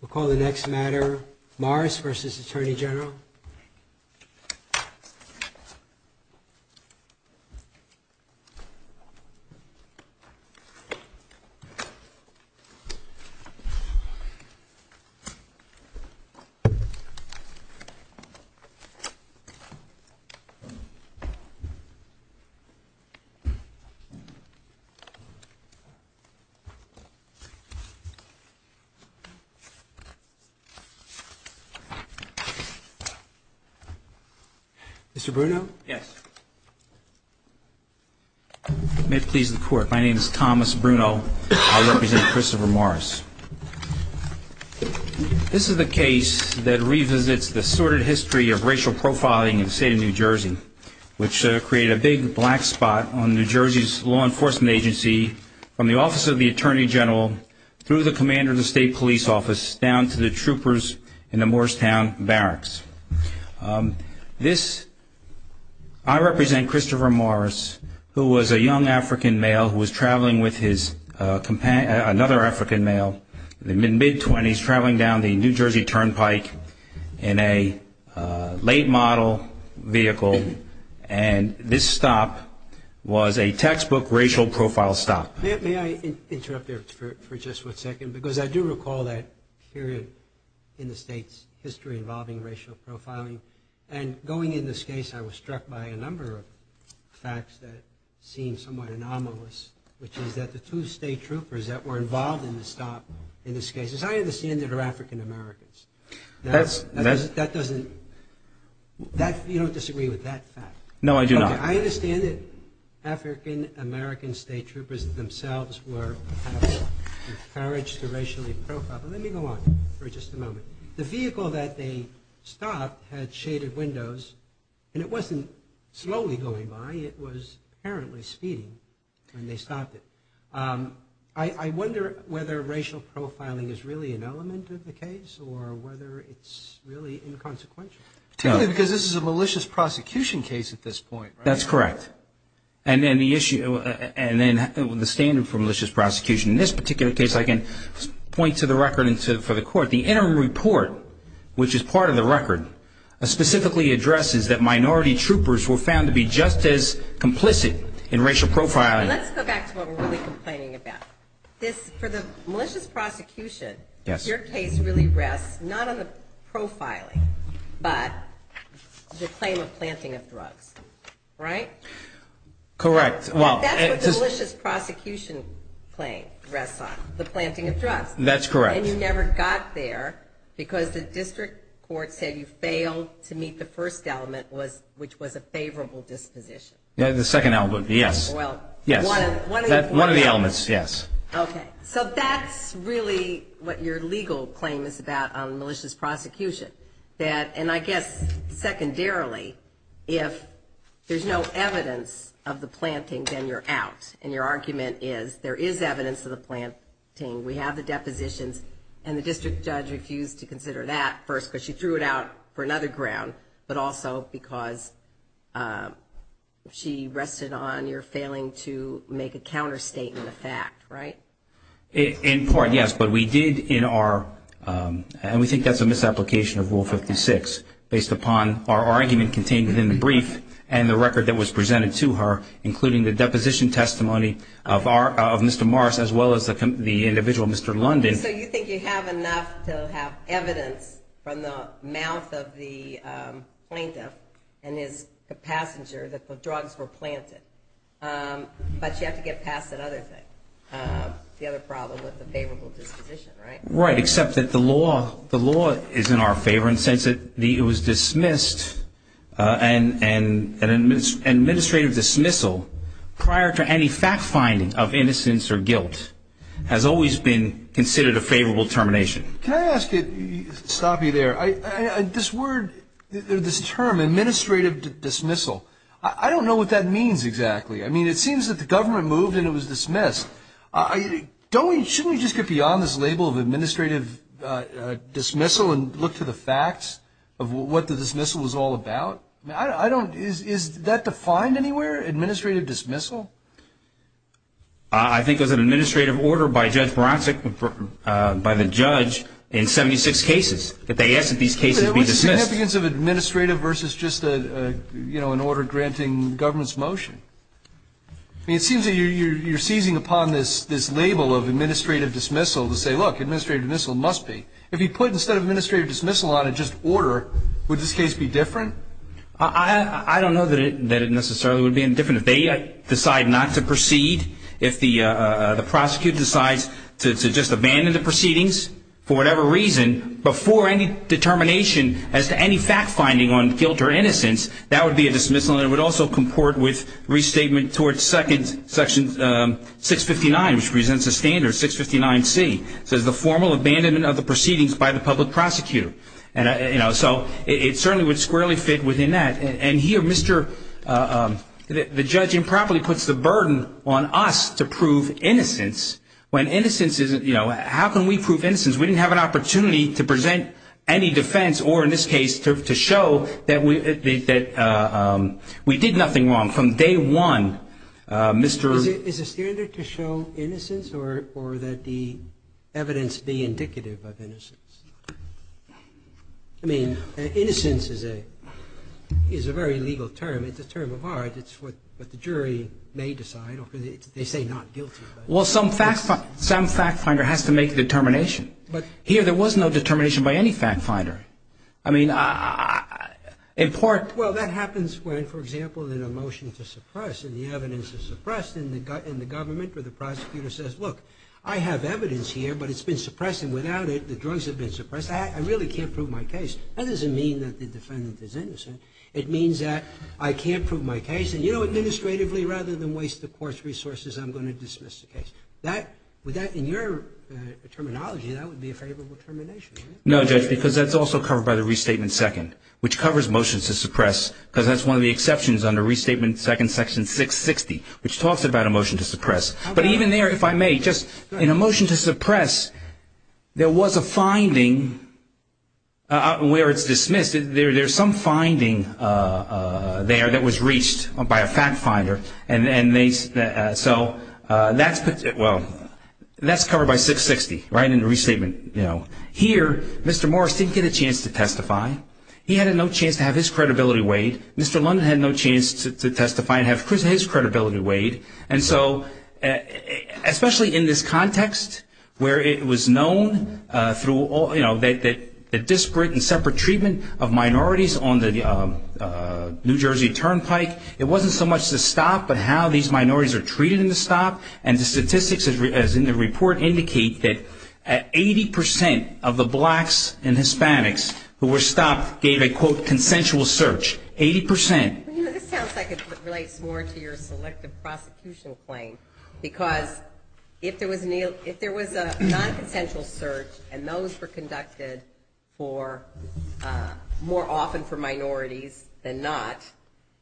We'll call the next matter Morris v. Attorney General. Mr. Bruno? Yes. May it please the court, my name is Thomas Bruno. I represent Christopher Morris. This is the case that revisits the sordid history of racial profiling in the state of New Jersey, which created a big black spot on New Jersey's law enforcement agency from the Office of the Attorney General through the Commander of the State Police Office down to the troopers in the Morristown Barracks. I represent Christopher Morris, who was a young African male who was traveling with another African male in the mid-20s, traveling down the New Jersey Turnpike in a late model vehicle, and this stop was a textbook racial profile stop. May I interrupt there for just one second, because I do recall that period in the state's history involving racial profiling. And going into this case, I was struck by a number of facts that seemed somewhat anomalous, which is that the two state troopers that were involved in the stop in this case, as I understand, are African Americans. That doesn't – you don't disagree with that fact? No, I do not. I understand that African American state troopers themselves were kind of encouraged to racially profile, but let me go on for just a moment. The vehicle that they stopped had shaded windows, and it wasn't slowly going by. It was apparently speeding when they stopped it. I wonder whether racial profiling is really an element of the case or whether it's really inconsequential. Particularly because this is a malicious prosecution case at this point. That's correct. And then the standard for malicious prosecution in this particular case, I can point to the record for the court. The interim report, which is part of the record, specifically addresses that minority troopers were found to be just as complicit in racial profiling. Let's go back to what we're really complaining about. For the malicious prosecution, your case really rests not on the profiling, but the claim of planting of drugs. Right? Correct. That's what the malicious prosecution claim rests on, the planting of drugs. That's correct. And you never got there because the district court said you failed to meet the first element, which was a favorable disposition. The second element, yes. One of the elements, yes. Okay. So that's really what your legal claim is about on malicious prosecution. And I guess secondarily, if there's no evidence of the planting, then you're out. And your argument is there is evidence of the planting. We have the depositions. And the district judge refused to consider that first because she threw it out for another ground, but also because she rested on your failing to make a counterstatement of fact. Right? In part, yes. But we did in our ‑‑ and we think that's a misapplication of Rule 56, based upon our argument contained within the brief and the record that was presented to her, including the deposition testimony of Mr. Morris as well as the individual, Mr. London. So you think you have enough to have evidence from the mouth of the plaintiff and his passenger that the drugs were planted, but you have to get past that other thing, the other problem with the favorable disposition, right? Right. Except that the law is in our favor in the sense that it was dismissed, and administrative dismissal prior to any fact finding of innocence or guilt has always been considered a favorable termination. Can I ask you, stop you there, this word, this term, administrative dismissal, I don't know what that means exactly. I mean, it seems that the government moved and it was dismissed. Don't we, shouldn't we just get beyond this label of administrative dismissal and look to the facts of what the dismissal was all about? I don't, is that defined anywhere, administrative dismissal? I think it was an administrative order by Judge Bronsik, by the judge, in 76 cases. They asked that these cases be dismissed. What's the significance of administrative versus just an order granting government's motion? I mean, it seems that you're seizing upon this label of administrative dismissal to say, look, administrative dismissal must be. If you put instead of administrative dismissal on it just order, would this case be different? I don't know that it necessarily would be any different. If they decide not to proceed, if the prosecutor decides to just abandon the proceedings for whatever reason, before any determination as to any fact finding on guilt or innocence, that would be a dismissal, and it would also comport with restatement toward section 659, which presents a standard, 659C. It says the formal abandonment of the proceedings by the public prosecutor. So it certainly would squarely fit within that. And here the judge improperly puts the burden on us to prove innocence when innocence isn't, you know, how can we prove innocence? We didn't have an opportunity to present any defense or, in this case, to show that we did nothing wrong. But from day one, Mr. Is it standard to show innocence or that the evidence be indicative of innocence? I mean, innocence is a very legal term. It's a term of art. It's what the jury may decide. They say not guilty. Well, some fact finder has to make a determination. But here there was no determination by any fact finder. I mean, in part Well, that happens when, for example, in a motion to suppress, and the evidence is suppressed, and the government or the prosecutor says, look, I have evidence here, but it's been suppressed, and without it the drugs have been suppressed. I really can't prove my case. That doesn't mean that the defendant is innocent. It means that I can't prove my case, and, you know, administratively, rather than waste the court's resources, I'm going to dismiss the case. With that in your terminology, that would be a favorable termination. No, Judge, because that's also covered by the Restatement 2nd, which covers motions to suppress, because that's one of the exceptions under Restatement 2nd, Section 660, which talks about a motion to suppress. But even there, if I may, just in a motion to suppress, there was a finding where it's dismissed. There's some finding there that was reached by a fact finder. So that's covered by 660, right, in the restatement. Here, Mr. Morris didn't get a chance to testify. He had no chance to have his credibility weighed. Mr. London had no chance to testify and have his credibility weighed. And so, especially in this context where it was known through, you know, the disparate and separate treatment of minorities on the New Jersey Turnpike, it wasn't so much the stop, but how these minorities are treated in the stop. And the statistics, as in the report, indicate that 80 percent of the blacks and Hispanics who were stopped gave a, quote, consensual search, 80 percent. You know, this sounds like it relates more to your selective prosecution claim, because if there was a nonconsensual search and those were conducted more often for minorities than not,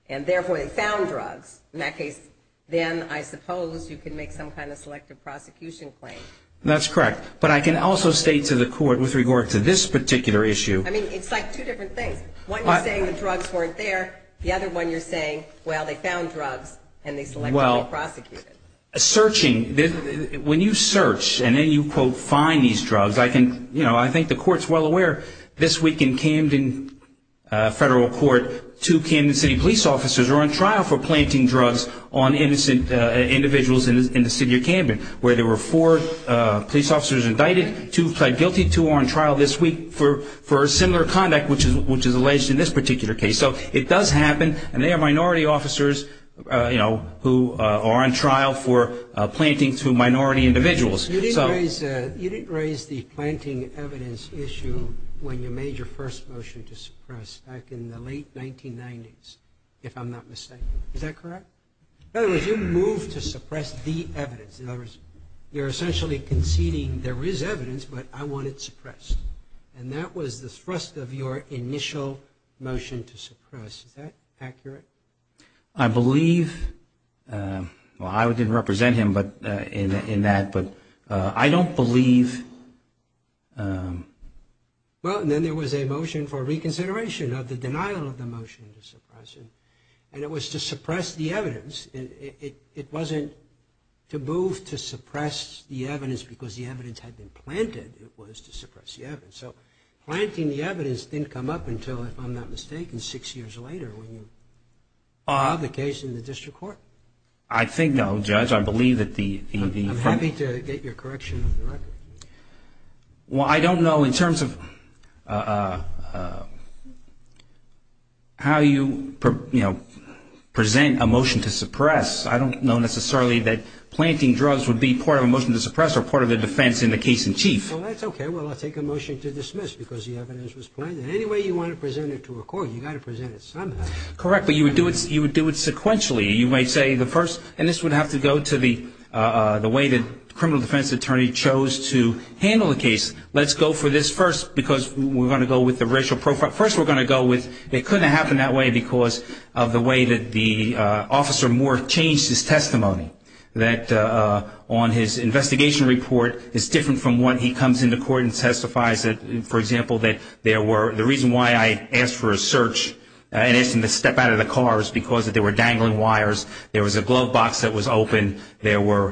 and therefore they found drugs, in that case, then I suppose you can make some kind of selective prosecution claim. That's correct. But I can also state to the court, with regard to this particular issue. I mean, it's like two different things. One, you're saying the drugs weren't there. The other one, you're saying, well, they found drugs and they selectively prosecuted. Well, searching, when you search and then you, quote, find these drugs, I can, you know, I think the court's well aware this week in Camden Federal Court, two Camden City police officers are on trial for planting drugs on innocent individuals in the city of Camden, where there were four police officers indicted, two pled guilty, two are on trial this week for similar conduct, which is alleged in this particular case. So it does happen, and they are minority officers, you know, who are on trial for planting to minority individuals. You didn't raise the planting evidence issue when you made your first motion to suppress back in the late 1990s, if I'm not mistaken. Is that correct? In other words, you moved to suppress the evidence. In other words, you're essentially conceding there is evidence, but I want it suppressed. And that was the thrust of your initial motion to suppress. Is that accurate? I believe, well, I didn't represent him in that, but I don't believe. Well, and then there was a motion for reconsideration of the denial of the motion to suppress it, and it was to suppress the evidence. It wasn't to move to suppress the evidence because the evidence had been planted. It was to suppress the evidence. So planting the evidence didn't come up until, if I'm not mistaken, six years later, when you filed the case in the district court? I think, no, Judge. I believe that the... I'm happy to get your correction on the record. Well, I don't know in terms of how you, you know, present a motion to suppress. I don't know necessarily that planting drugs would be part of a motion to suppress or part of the defense in the case in chief. Well, that's okay. Well, I'll take a motion to dismiss because the evidence was planted. Anyway you want to present it to a court, you've got to present it somehow. Correct, but you would do it sequentially. You might say the first... And this would have to go to the way that the criminal defense attorney chose to handle the case. Let's go for this first because we're going to go with the racial profile. First we're going to go with... It couldn't have happened that way because of the way that the officer more changed his testimony, that on his investigation report is different from what he comes into court and testifies. For example, that there were... The reason why I asked for a search and asked him to step out of the car is because there were dangling wires. There was a glove box that was open. There was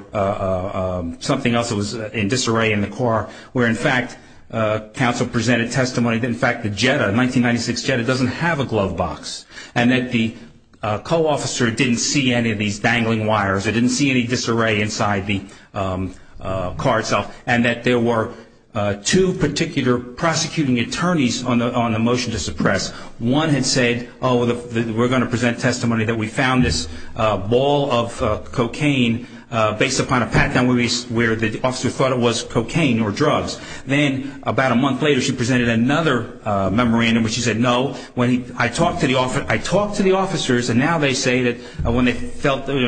something else that was in disarray in the car where, in fact, counsel presented testimony. In fact, the Jetta, the 1996 Jetta, doesn't have a glove box and that the co-officer didn't see any of these dangling wires. They didn't see any disarray inside the car itself. And that there were two particular prosecuting attorneys on the motion to suppress. One had said, oh, we're going to present testimony that we found this ball of cocaine based upon a pat-down where the officer thought it was cocaine or drugs. Then about a month later she presented another memorandum where she said, no. I talked to the officers and now they say that when they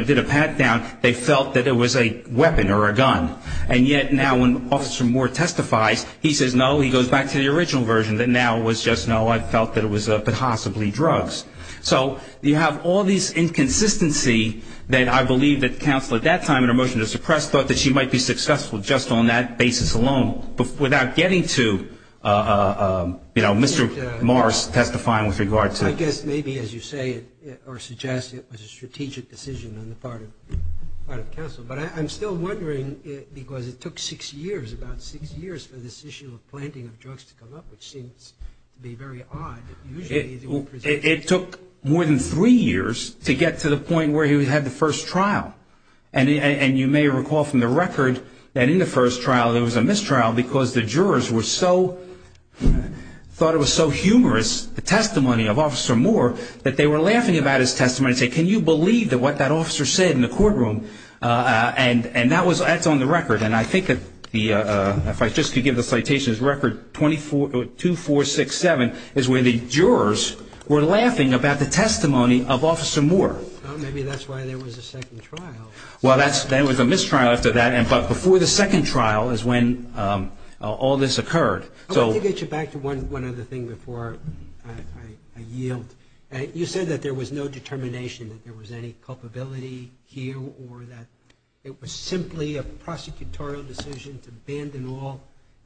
did a pat-down, they felt that it was a weapon or a gun. And yet now when Officer Moore testifies, he says no. He goes back to the original version that now it was just no, I felt that it was possibly drugs. So you have all these inconsistencies that I believe that counsel at that time in her motion to suppress thought that she might be successful just on that basis alone without getting to, you know, Mr. Morris testifying with regard to. I guess maybe as you say or suggest it was a strategic decision on the part of counsel. But I'm still wondering because it took six years, about six years for this issue of planting of drugs to come up, which seems to be very odd. It took more than three years to get to the point where he had the first trial. And you may recall from the record that in the first trial there was a mistrial because the jurors were so thought it was so humorous, the testimony of Officer Moore, that they were laughing about his testimony and say, can you believe that what that officer said in the courtroom? And and that was that's on the record. And I think that the if I just could give the citations record 242467 is where the jurors were laughing about the testimony of Officer Moore. Maybe that's why there was a second trial. Well, that's there was a mistrial after that. But before the second trial is when all this occurred. So get you back to one. One other thing before I yield. You said that there was no determination that there was any culpability here or that it was simply a prosecutorial decision to abandon all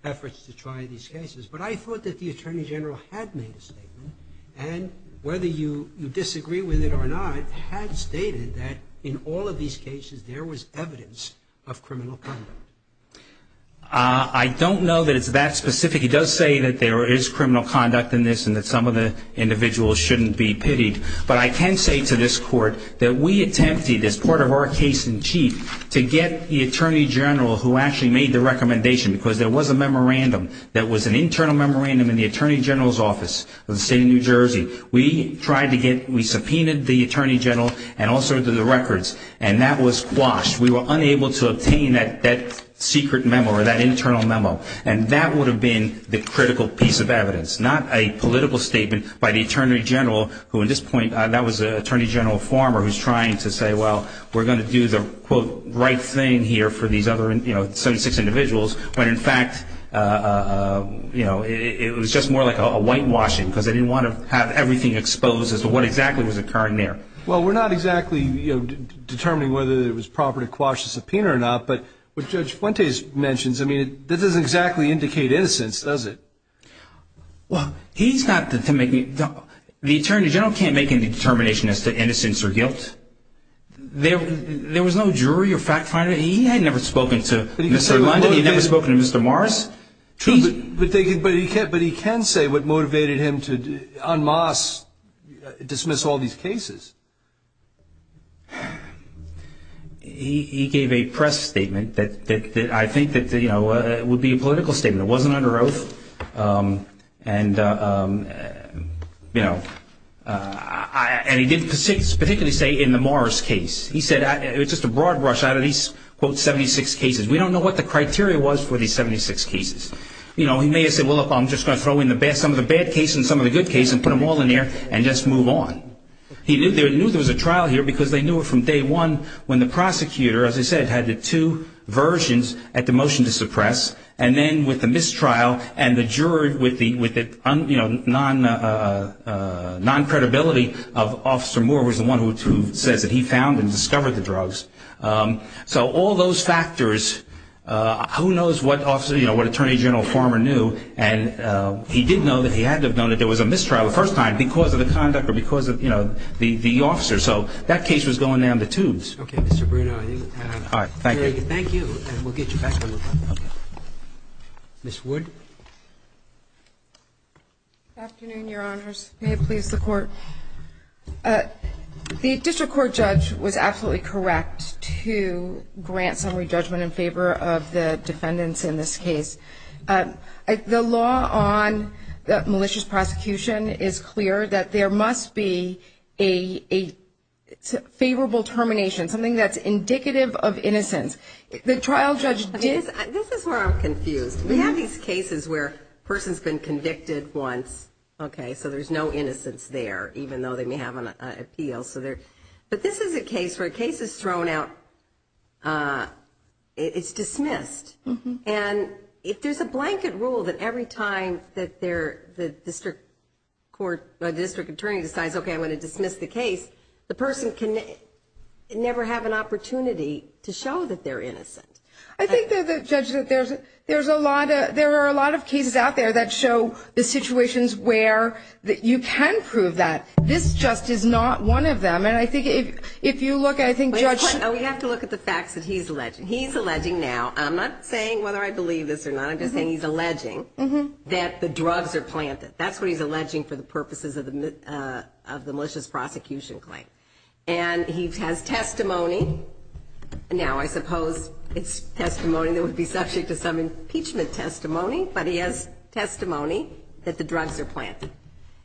efforts to try these cases. But I thought that the attorney general had made a statement. And whether you disagree with it or not, had stated that in all of these cases, there was evidence of criminal conduct. I don't know that it's that specific. He does say that there is criminal conduct in this and that some of the individuals shouldn't be pitied. But I can say to this court that we attempted as part of our case in chief to get the attorney general who actually made the recommendation because there was a memorandum. That was an internal memorandum in the attorney general's office of the state of New Jersey. We tried to get we subpoenaed the attorney general and also to the records. And that was quashed. We were unable to obtain that secret memo or that internal memo. And that would have been the critical piece of evidence, not a political statement by the attorney general, who at this point, that was an attorney general former who's trying to say, well, we're going to do the quote, for these other 76 individuals when, in fact, it was just more like a whitewashing because they didn't want to have everything exposed as to what exactly was occurring there. Well, we're not exactly determining whether it was proper to quash the subpoena or not. But what Judge Fuentes mentions, I mean, that doesn't exactly indicate innocence, does it? Well, he's not the attorney general can't make any determination as to innocence or guilt. There was no jury or fact finder. He had never spoken to Mr. London. He had never spoken to Mr. Morris. But he can say what motivated him to unmask, dismiss all these cases. He gave a press statement that I think that would be a political statement. It wasn't under oath. And, you know, and he didn't particularly say in the Morris case. He said it was just a broad brush out of these, quote, 76 cases. We don't know what the criteria was for these 76 cases. You know, he may have said, well, look, I'm just going to throw in some of the bad cases and some of the good cases and put them all in there and just move on. He knew there was a trial here because they knew it from day one when the prosecutor, as I said, had the two versions at the motion to suppress. And then with the mistrial and the jury with the, you know, non-credibility of Officer Moore was the one who says that he found and discovered the drugs. So all those factors, who knows what Attorney General Farmer knew. And he did know that he had to have known that there was a mistrial the first time because of the conduct or because of, you know, the officer. So that case was going down the tubes. Okay, Mr. Bruno. Thank you. Thank you. And we'll get you back to me. Ms. Wood. Afternoon, Your Honors. May it please the Court. The district court judge was absolutely correct to grant summary judgment in favor of the defendants in this case. The law on malicious prosecution is clear that there must be a favorable termination and something that's indicative of innocence. The trial judge did. This is where I'm confused. We have these cases where a person's been convicted once, okay, so there's no innocence there, even though they may have an appeal. But this is a case where a case is thrown out, it's dismissed. And if there's a blanket rule that every time that the district attorney decides, okay, I want to dismiss the case, the person can never have an opportunity to show that they're innocent. I think, Judge, that there are a lot of cases out there that show the situations where you can prove that. This just is not one of them. And I think if you look, I think Judge ---- We have to look at the facts that he's alleging. He's alleging now. I'm not saying whether I believe this or not. I'm just saying he's alleging that the drugs are planted. That's what he's alleging for the purposes of the malicious prosecution claim. And he has testimony. Now, I suppose it's testimony that would be subject to some impeachment testimony, but he has testimony that the drugs are planted.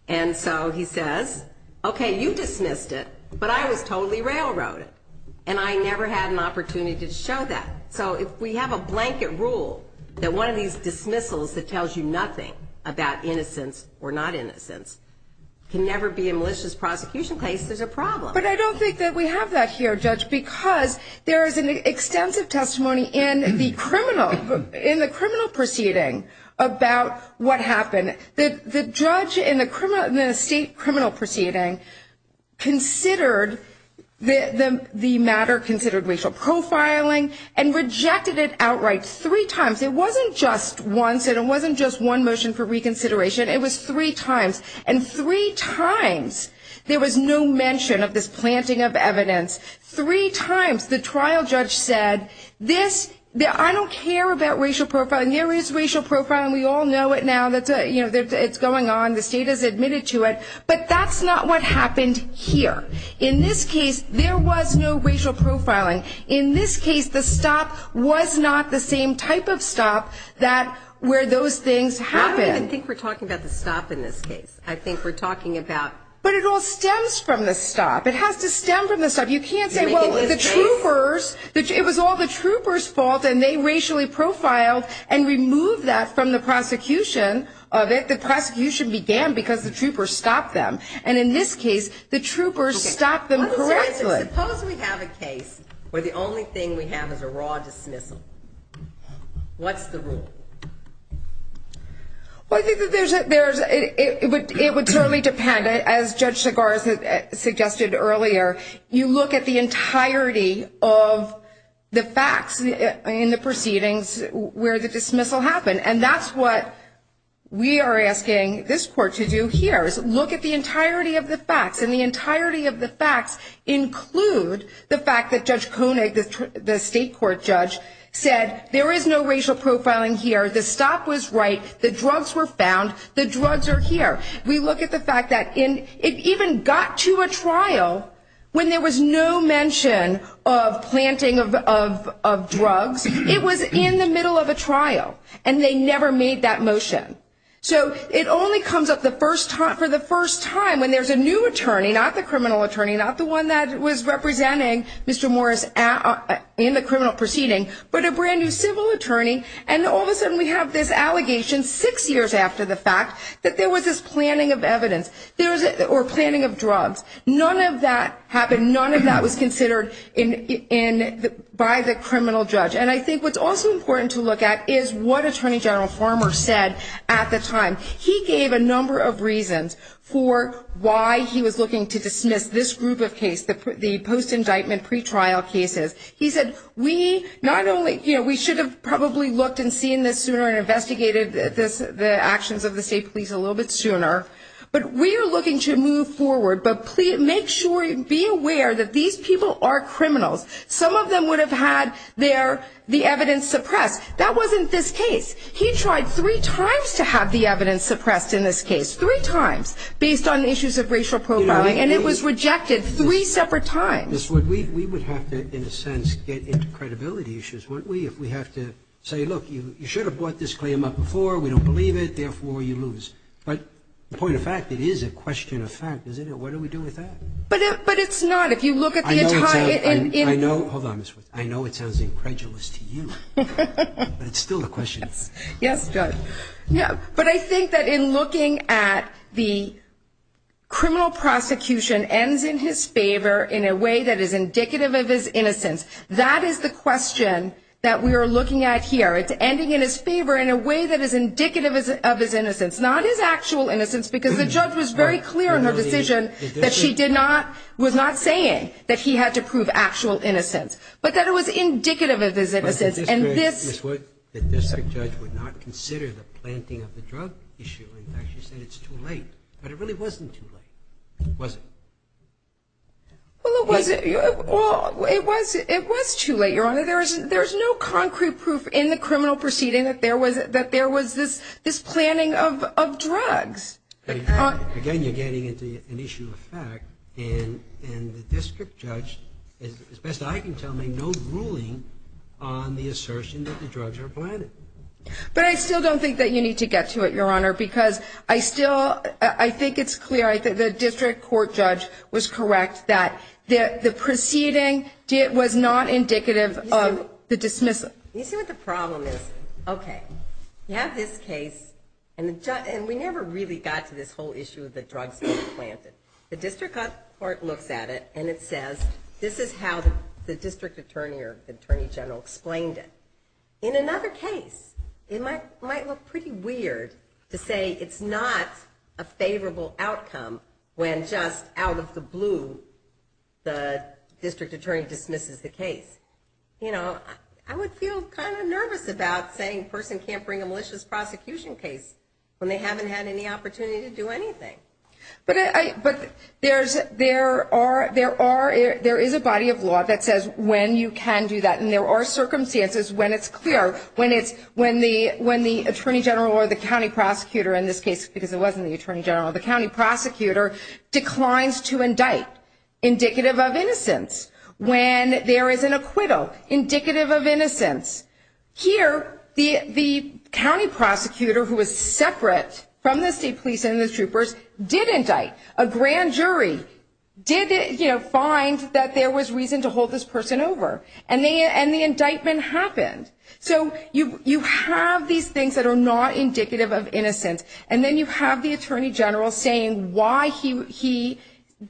And so he says, okay, you dismissed it, but I was totally railroaded, and I never had an opportunity to show that. So if we have a blanket rule that one of these dismissals that tells you nothing about innocence or not innocence can never be a malicious prosecution case, there's a problem. But I don't think that we have that here, Judge, because there is an extensive testimony in the criminal proceeding about what happened. The judge in the state criminal proceeding considered the matter considered racial profiling and rejected it outright three times. It wasn't just once, and it wasn't just one motion for reconsideration. It was three times. And three times there was no mention of this planting of evidence. Three times the trial judge said, I don't care about racial profiling. There is racial profiling. We all know it now. It's going on. The state has admitted to it. But that's not what happened here. In this case, there was no racial profiling. In this case, the stop was not the same type of stop where those things happened. I don't even think we're talking about the stop in this case. I think we're talking about the stop. But it all stems from the stop. It has to stem from the stop. You can't say, well, the troopers, it was all the troopers' fault, and they racially profiled and removed that from the prosecution of it. The prosecution began because the troopers stopped them. And in this case, the troopers stopped them correctly. Suppose we have a case where the only thing we have is a raw dismissal. What's the rule? Well, I think it would totally depend. As Judge Segarra suggested earlier, you look at the entirety of the facts in the proceedings where the dismissal happened. And that's what we are asking this court to do here, is look at the entirety of the facts. And the entirety of the facts include the fact that Judge Koenig, the state court judge, said there is no racial profiling here. The stop was right. The drugs were found. The drugs are here. We look at the fact that it even got to a trial when there was no mention of planting of drugs. It was in the middle of a trial, and they never made that motion. So it only comes up for the first time when there's a new attorney, not the criminal attorney, not the one that was representing Mr. Morris in the criminal proceeding, but a brand-new civil attorney, and all of a sudden we have this allegation six years after the fact that there was this planting of evidence or planting of drugs. None of that happened. None of that was considered by the criminal judge. And I think what's also important to look at is what Attorney General Farmer said at the time. He gave a number of reasons for why he was looking to dismiss this group of cases, the post-indictment pretrial cases. He said we should have probably looked and seen this sooner and investigated the actions of the state police a little bit sooner. But we are looking to move forward. But make sure, be aware that these people are criminals. Some of them would have had the evidence suppressed. That wasn't this case. He tried three times to have the evidence suppressed in this case, three times, based on issues of racial profiling, and it was rejected three separate times. We would have to, in a sense, get into credibility issues, wouldn't we, if we have to say, look, you should have brought this claim up before. We don't believe it. Therefore, you lose. But the point of fact, it is a question of fact, isn't it? What do we do with that? But it's not. I know it sounds incredulous to you. But it's still a question. Yes, Judge. But I think that in looking at the criminal prosecution ends in his favor in a way that is indicative of his innocence. That is the question that we are looking at here. It's ending in his favor in a way that is indicative of his innocence, not his actual innocence, because the judge was very clear in her decision that she was not saying that he had to prove actual innocence, but that it was indicative of his innocence. But in this case, Ms. Wood, the district judge would not consider the planting of the drug issue. In fact, she said it's too late. But it really wasn't too late, was it? Well, it was too late, Your Honor. There's no concrete proof in the criminal proceeding that there was this planting of drugs. Again, you're getting into an issue of fact. And the district judge, as best I can tell, made no ruling on the assertion that the drugs were planted. But I still don't think that you need to get to it, Your Honor, because I still think it's clear. The district court judge was correct that the proceeding was not indicative of the dismissal. You see what the problem is? Okay, you have this case, and we never really got to this whole issue of the drugs being planted. The district court looks at it, and it says, this is how the district attorney or the attorney general explained it. In another case, it might look pretty weird to say it's not a favorable outcome when just out of the blue, the district attorney dismisses the case. You know, I would feel kind of nervous about saying a person can't bring a malicious prosecution case when they haven't had any opportunity to do anything. But there is a body of law that says when you can do that, and there are circumstances when it's clear, when the attorney general or the county prosecutor in this case, because it wasn't the attorney general, the county prosecutor declines to indict indicative of innocence when there is an acquittal indicative of innocence. Here, the county prosecutor, who was separate from the state police and the troopers, did indict. A grand jury did find that there was reason to hold this person over, and the indictment happened. So you have these things that are not indicative of innocence, and then you have the attorney general saying why he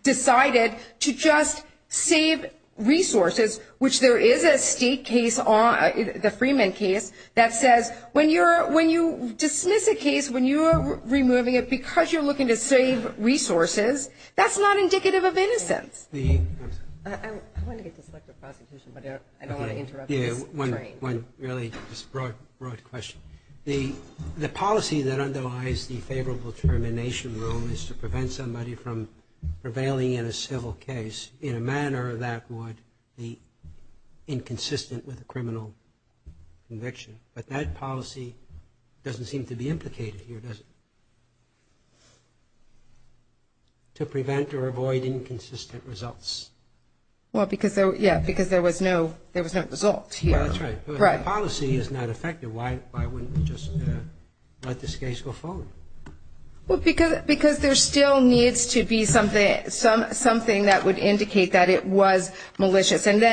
decided to just save resources, which there is a state case, the Freeman case, that says when you dismiss a case, when you are removing it because you're looking to save resources, that's not indicative of innocence. I want to get to selective prosecution, but I don't want to interrupt this train. One really broad question. The policy that underlies the favorable termination rule is to prevent somebody from prevailing in a civil case in a manner that would be inconsistent with a criminal conviction. But that policy doesn't seem to be implicated here, does it? To prevent or avoid inconsistent results. Well, yeah, because there was no result here. That's right. If the policy is not effective, why wouldn't they just let this case go forward? Well, because there still needs to be something that would indicate that it was malicious. And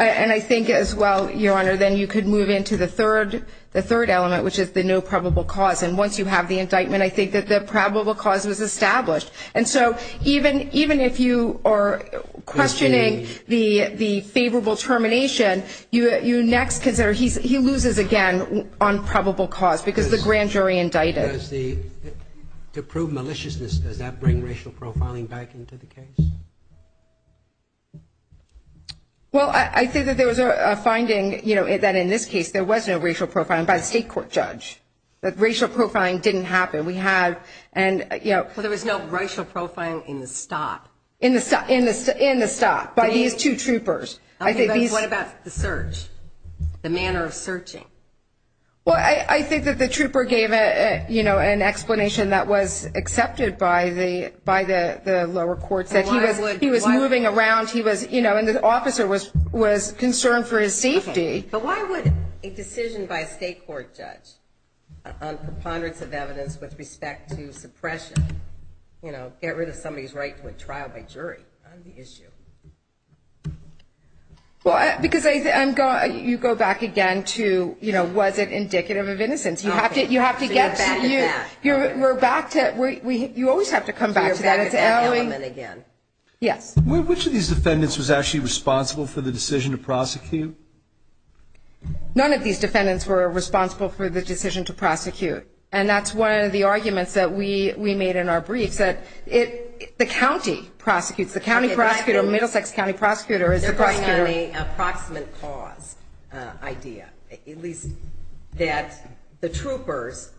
I think as well, Your Honor, then you could move into the third element, which is the no probable cause. And once you have the indictment, I think that the probable cause was established. And so even if you are questioning the favorable termination, you next consider, he loses again on probable cause because the grand jury indicted. To prove maliciousness, does that bring racial profiling back into the case? Well, I think that there was a finding, you know, that in this case there was no racial profiling by the state court judge. The racial profiling didn't happen. Well, there was no racial profiling in the stop. In the stop, by these two troopers. What about the search, the manner of searching? Well, I think that the trooper gave an explanation that was accepted by the lower courts. He was moving around and the officer was concerned for his safety. But why would a decision by a state court judge on preponderance of evidence with respect to suppression, you know, get rid of somebody's right to a trial by jury on the issue? Well, because you go back again to, you know, was it indicative of innocence? You have to get to the – you're back to – you always have to come back to that. You're back at that element again. Yes. Which of these defendants was actually responsible for the decision to prosecute? None of these defendants were responsible for the decision to prosecute, and that's one of the arguments that we made in our briefs, that the county prosecutes. The county prosecutor, Middlesex County prosecutor is the prosecutor. They're going on a proximate cause idea, at least that the troopers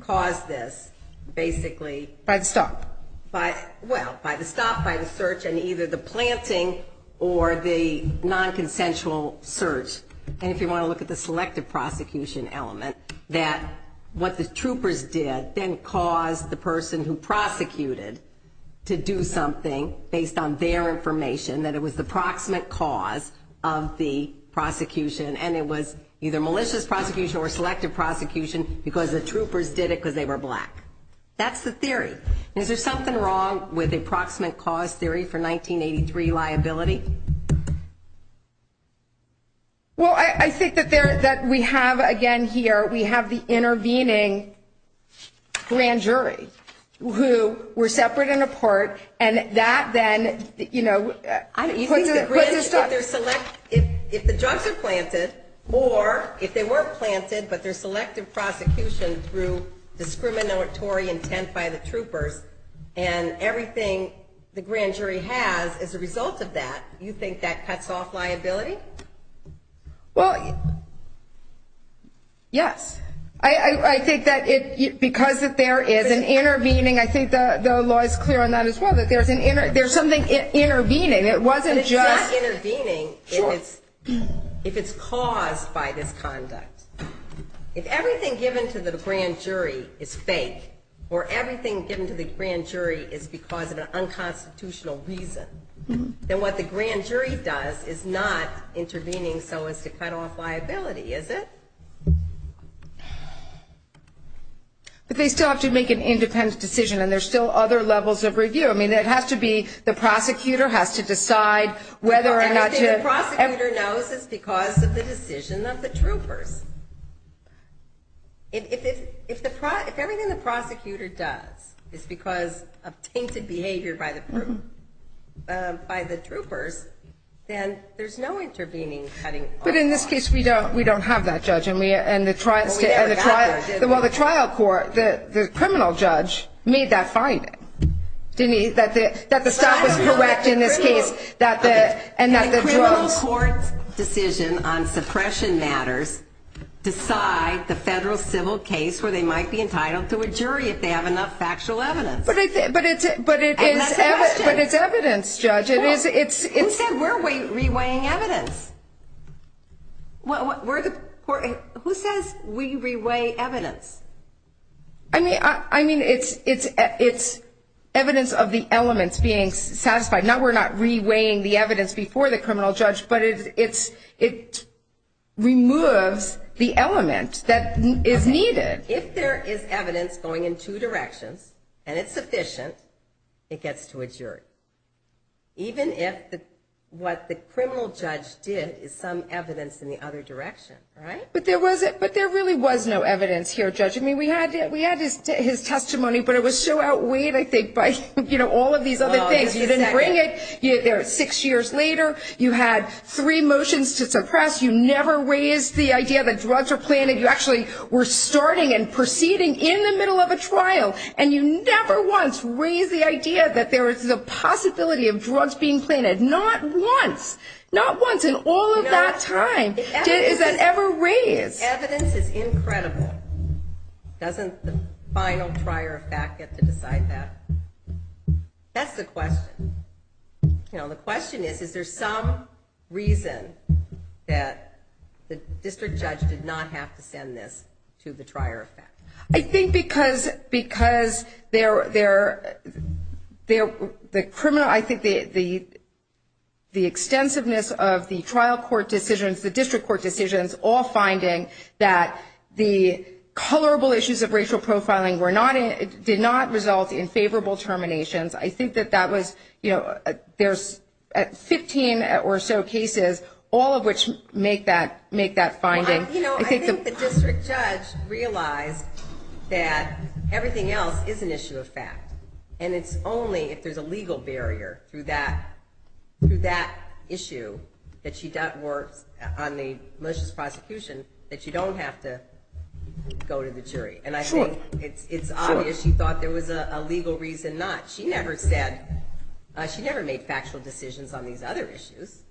caused this basically. By the stop. Well, by the stop, by the search, and either the planting or the nonconsensual search. And if you want to look at the selective prosecution element, that what the troopers did then caused the person who prosecuted to do something based on their information, that it was the proximate cause of the prosecution, and it was either malicious prosecution or selective prosecution because the troopers did it because they were black. That's the theory. Is there something wrong with the proximate cause theory for 1983 liability? Well, I think that we have, again, here, we have the intervening grand jury who were separate and apart, and that then, you know, puts the stuff. If the drugs are planted, or if they were planted, but there's selective prosecution through discriminatory intent by the troopers and everything the grand jury has as a result of that, you think that cuts off liability? Well, yes. I think that because there is an intervening, I think the law is clear on that as well, that there's something intervening. But it's not intervening if it's caused by this conduct. If everything given to the grand jury is fake, or everything given to the grand jury is because of an unconstitutional reason, then what the grand jury does is not intervening so as to cut off liability, is it? But they still have to make an independent decision, and there's still other levels of review. I mean, it has to be the prosecutor has to decide whether or not to... Everything the prosecutor knows is because of the decision of the troopers. If everything the prosecutor does is because of tainted behavior by the troopers, then there's no intervening cutting off liability. But in this case, we don't have that, Judge, and the trial... Well, we never got there, did we? That the stop was correct in this case, and that the drugs... A criminal court's decision on suppression matters decide the federal civil case where they might be entitled to a jury if they have enough factual evidence. But it's evidence, Judge. Who said we're reweighing evidence? Who says we reweigh evidence? I mean, it's evidence of the elements being satisfied. Now, we're not reweighing the evidence before the criminal judge, but it removes the element that is needed. If there is evidence going in two directions, and it's sufficient, it gets to a jury, even if what the criminal judge did is some evidence in the other direction, right? But there really was no evidence here, Judge. I mean, we had his testimony, but it was so outweighed, I think, by all of these other things. You didn't bring it. Six years later, you had three motions to suppress. You never raised the idea that drugs are planted. You actually were starting and proceeding in the middle of a trial, and you never once raised the idea that there is the possibility of drugs being planted. Not once. Not once in all of that time. Is that ever raised? Evidence is incredible. Doesn't the final trier of fact get to decide that? That's the question. You know, the question is, is there some reason that the district judge did not have to send this to the trier of fact? I think because the criminal – all finding that the colorable issues of racial profiling did not result in favorable terminations. I think that that was – there's 15 or so cases, all of which make that finding. You know, I think the district judge realized that everything else is an issue of fact, and it's only if there's a legal barrier through that issue that she works on the malicious prosecution that you don't have to go to the jury. And I think it's obvious she thought there was a legal reason not. She never said – she never made factual decisions on these other issues.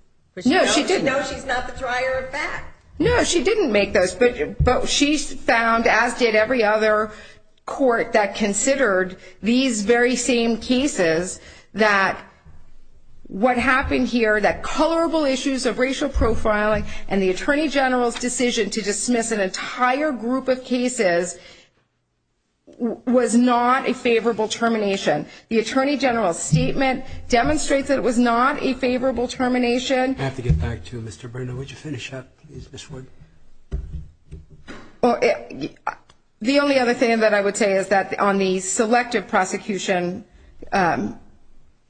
No, she didn't. She knows she's not the trier of fact. No, she didn't make those. But she found, as did every other court that considered these very same cases, that what happened here, that colorable issues of racial profiling and the attorney general's decision to dismiss an entire group of cases was not a favorable termination. The attorney general's statement demonstrates that it was not a favorable termination. I have to get back to you, Mr. Bruno. Would you finish up, please, Ms. Wood? Well, the only other thing that I would say is that on the selective prosecution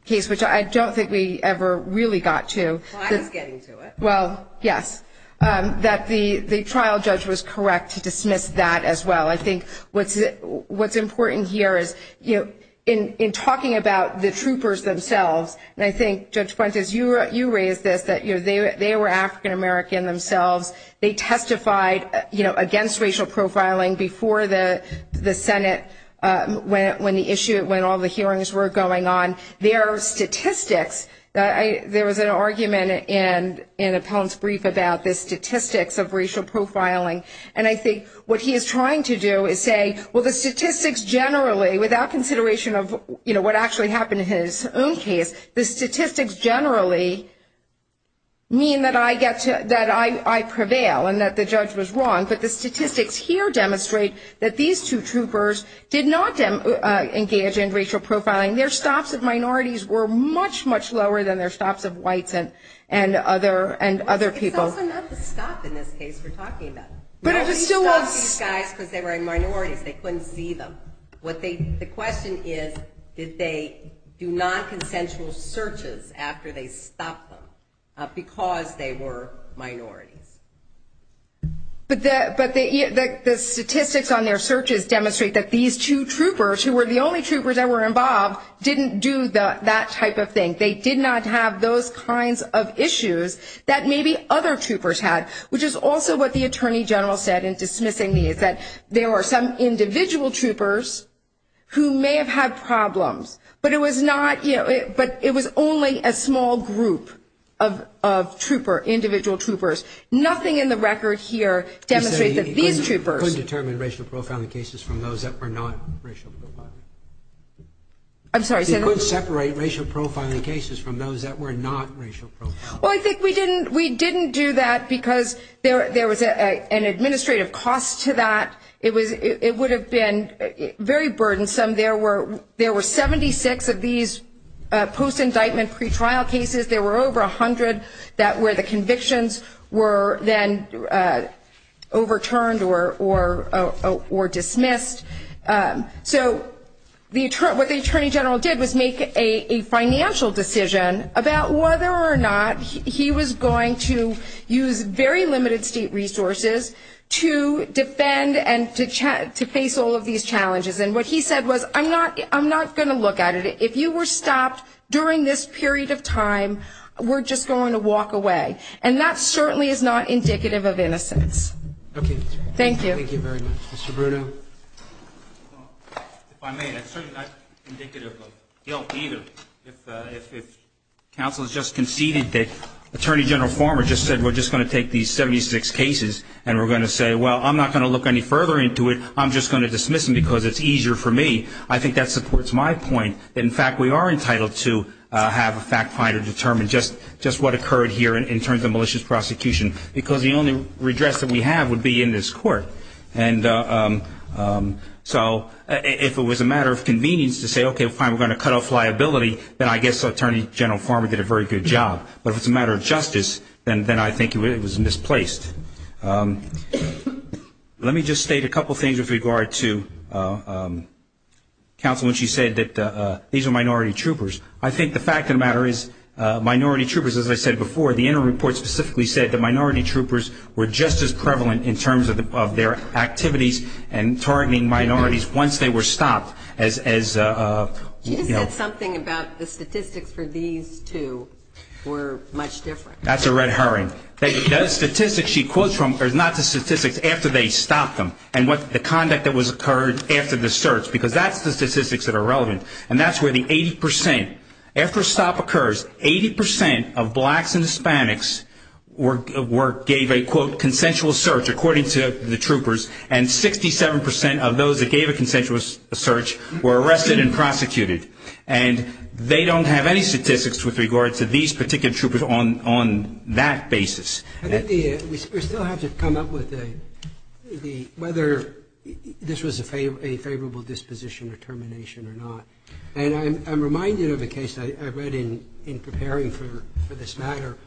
case, which I don't think we ever really got to. Well, I was getting to it. Well, yes, that the trial judge was correct to dismiss that as well. I think what's important here is, you know, in talking about the troopers themselves, and I think, Judge Fuentes, you raised this, that they were African-American themselves. They testified, you know, against racial profiling before the Senate, when all the hearings were going on. Their statistics, there was an argument in Appellant's brief about the statistics of racial profiling, and I think what he is trying to do is say, well, the statistics generally, without consideration of, you know, what actually happened in his own case, the statistics generally mean that I prevail and that the judge was wrong, but the statistics here demonstrate that these two troopers did not engage in racial profiling. Their stops of minorities were much, much lower than their stops of whites and other people. It's also not the stop in this case we're talking about. Now, he stopped these guys because they were minorities. They couldn't see them. The question is, did they do nonconsensual searches after they stopped them because they were minorities? But the statistics on their searches demonstrate that these two troopers, who were the only troopers that were involved, didn't do that type of thing. They did not have those kinds of issues that maybe other troopers had, which is also what the attorney general said in dismissing me, is that there were some individual troopers who may have had problems, but it was not, you know, but it was only a small group of trooper, individual troopers. Nothing in the record here demonstrates that these troopers. He said he couldn't determine racial profiling cases from those that were not racial profiling. I'm sorry. He said he couldn't separate racial profiling cases from those that were not racial profiling. Well, I think we didn't do that because there was an administrative cost to that. It would have been very burdensome. There were 76 of these post-indictment pretrial cases. There were over 100 where the convictions were then overturned or dismissed. So what the attorney general did was make a financial decision about whether or not he was going to use very limited state resources to defend and to face all of these challenges. And what he said was, I'm not going to look at it. If you were stopped during this period of time, we're just going to walk away. And that certainly is not indicative of innocence. Okay. Thank you. Thank you very much. Mr. Bruno. If I may, that's certainly not indicative of guilt either. If counsel has just conceded that Attorney General Farmer just said we're just going to take these 76 cases and we're going to say, well, I'm not going to look any further into it. I'm just going to dismiss them because it's easier for me. I think that supports my point that, in fact, we are entitled to have a fact finder determine just what occurred here in terms of malicious prosecution because the only redress that we have would be in this court. And so if it was a matter of convenience to say, okay, fine, we're going to cut off liability, then I guess Attorney General Farmer did a very good job. But if it's a matter of justice, then I think it was misplaced. Let me just state a couple things with regard to counsel when she said that these are minority troopers. I think the fact of the matter is minority troopers, as I said before, the interim report specifically said that minority troopers were just as prevalent in terms of their activities and targeting minorities once they were stopped as, you know. She said something about the statistics for these two were much different. That's a red herring. The statistics she quotes from are not the statistics after they stopped them and what the conduct that was occurred after the search because that's the statistics that are relevant. And that's where the 80 percent. After a stop occurs, 80 percent of blacks and Hispanics gave a, quote, consensual search, according to the troopers, and 67 percent of those that gave a consensual search were arrested and prosecuted. And they don't have any statistics with regard to these particular troopers on that basis. I think we still have to come up with whether this was a favorable disposition or termination or not. And I'm reminded of a case I read in preparing for this matter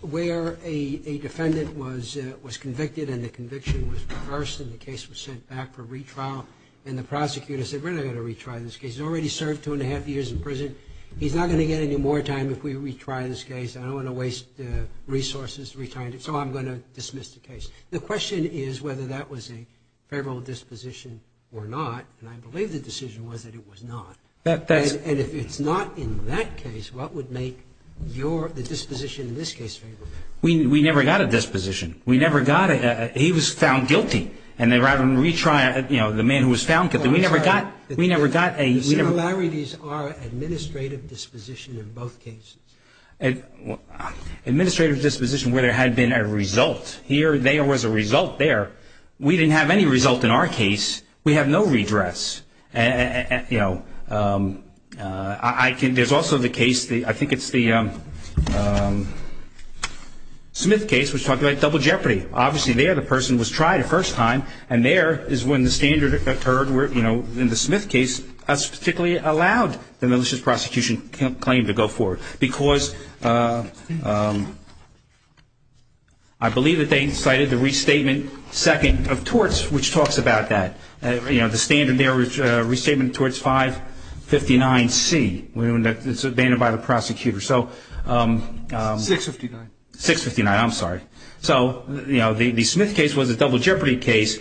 where a defendant was convicted and the conviction was reversed and the case was sent back for retrial. And the prosecutor said, we're not going to retry this case. He's already served two and a half years in prison. He's not going to get any more time if we retry this case. I don't want to waste resources retrying it, so I'm going to dismiss the case. The question is whether that was a federal disposition or not. And I believe the decision was that it was not. And if it's not in that case, what would make the disposition in this case favorable? We never got a disposition. We never got a – he was found guilty. And rather than retry, you know, the man who was found guilty, we never got – we never got a – The similarities are administrative disposition in both cases. Administrative disposition where there had been a result. Here there was a result there. We didn't have any result in our case. We have no redress. You know, I can – there's also the case, I think it's the Smith case, which talked about double jeopardy. Obviously there the person was tried a first time, and there is when the standard occurred. And that's where, you know, in the Smith case, us particularly allowed the malicious prosecution claim to go forward. Because I believe that they cited the restatement second of torts, which talks about that. You know, the standard there was restatement of torts 559C. It's abandoned by the prosecutor. So – 659. 659, I'm sorry. So, you know, the Smith case was a double jeopardy case,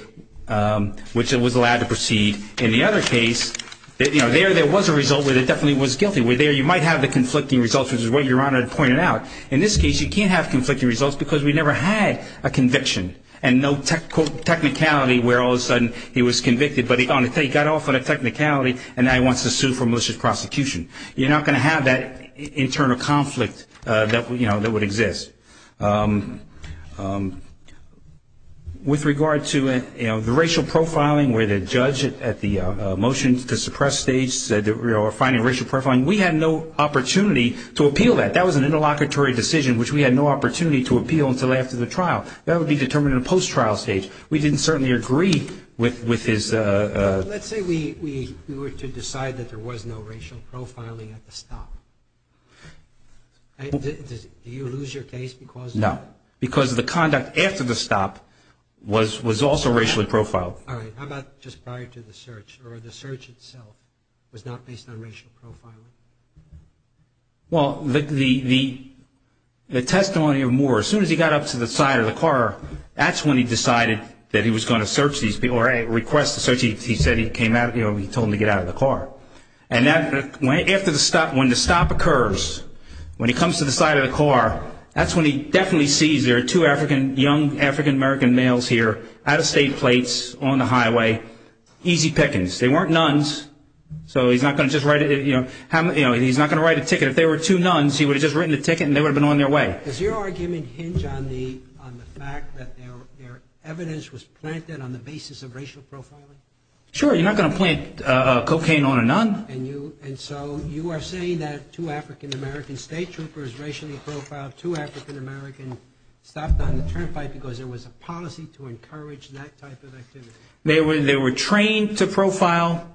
which it was allowed to proceed. In the other case, you know, there there was a result where it definitely was guilty. Where there you might have the conflicting results, which is what Your Honor had pointed out. In this case you can't have conflicting results because we never had a conviction. And no technicality where all of a sudden he was convicted, but he got off on a technicality, and now he wants to sue for malicious prosecution. You're not going to have that internal conflict that, you know, that would exist. With regard to, you know, the racial profiling where the judge at the motion to suppress stage said, you know, we're finding racial profiling, we had no opportunity to appeal that. That was an interlocutory decision, which we had no opportunity to appeal until after the trial. That would be determined in a post-trial stage. We didn't certainly agree with his – Let's say we were to decide that there was no racial profiling at the stop. Do you lose your case because of that? No, because the conduct after the stop was also racially profiled. All right. How about just prior to the search, or the search itself was not based on racial profiling? Well, the testimony of Moore, as soon as he got up to the side of the car, that's when he decided that he was going to search these people or request the search. He said he came out, you know, he told him to get out of the car. And after the stop, when the stop occurs, when he comes to the side of the car, that's when he definitely sees there are two young African-American males here, out-of-state plates, on the highway, easy pickings. They weren't nuns, so he's not going to just write a – you know, he's not going to write a ticket. If they were two nuns, he would have just written the ticket and they would have been on their way. All right. Does your argument hinge on the fact that their evidence was planted on the basis of racial profiling? Sure. You're not going to plant cocaine on a nun. And so you are saying that two African-American state troopers, racially profiled, two African-American stopped on the turnpike because there was a policy to encourage that type of activity. They were trained to profile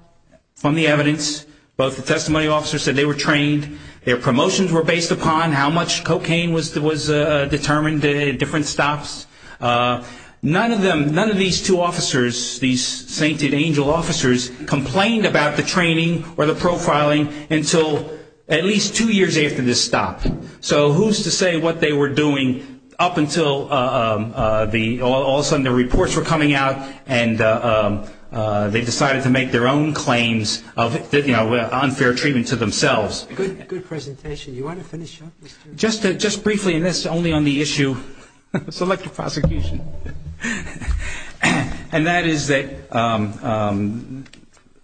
from the evidence. Both the testimony officers said they were trained. Their promotions were based upon how much cocaine was determined at different stops. None of these two officers, these sainted angel officers, complained about the training or the profiling until at least two years after the stop. So who's to say what they were doing up until all of a sudden the reports were coming out and they decided to make their own claims of unfair treatment to themselves. Good presentation. You want to finish up? Just briefly, and this is only on the issue of selective prosecution. And that is that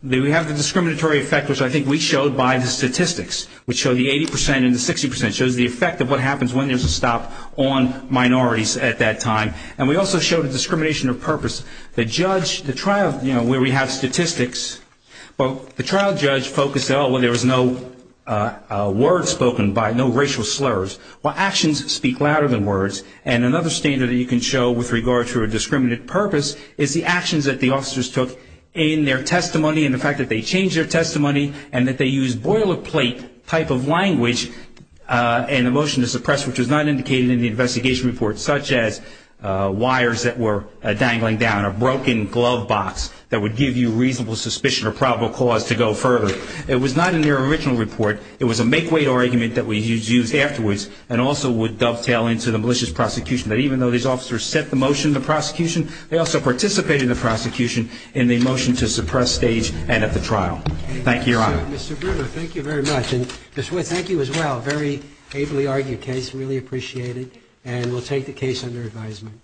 we have the discriminatory effect, which I think we showed by the statistics, which show the 80 percent and the 60 percent, shows the effect of what happens when there's a stop on minorities at that time. And we also showed a discrimination of purpose. The judge, the trial, you know, where we have statistics. Well, the trial judge focused, oh, well, there was no word spoken by no racial slurs. Well, actions speak louder than words. And another standard that you can show with regard to a discriminatory purpose is the actions that the officers took in their testimony and the fact that they changed their testimony and that they used boilerplate type of language and the motion to suppress, which was not indicated in the investigation report, such as wires that were dangling down, a broken glove box that would give you reasonable suspicion or probable cause to go further. It was not in their original report. It was a make-wait argument that was used afterwards and also would dovetail into the malicious prosecution, that even though these officers set the motion in the prosecution, they also participated in the prosecution in the motion to suppress stage and at the trial. Thank you, Your Honor. Mr. Brewer, thank you very much. And Ms. Wood, thank you as well. Very ably argued case. Really appreciate it. And we'll take the case under advisement.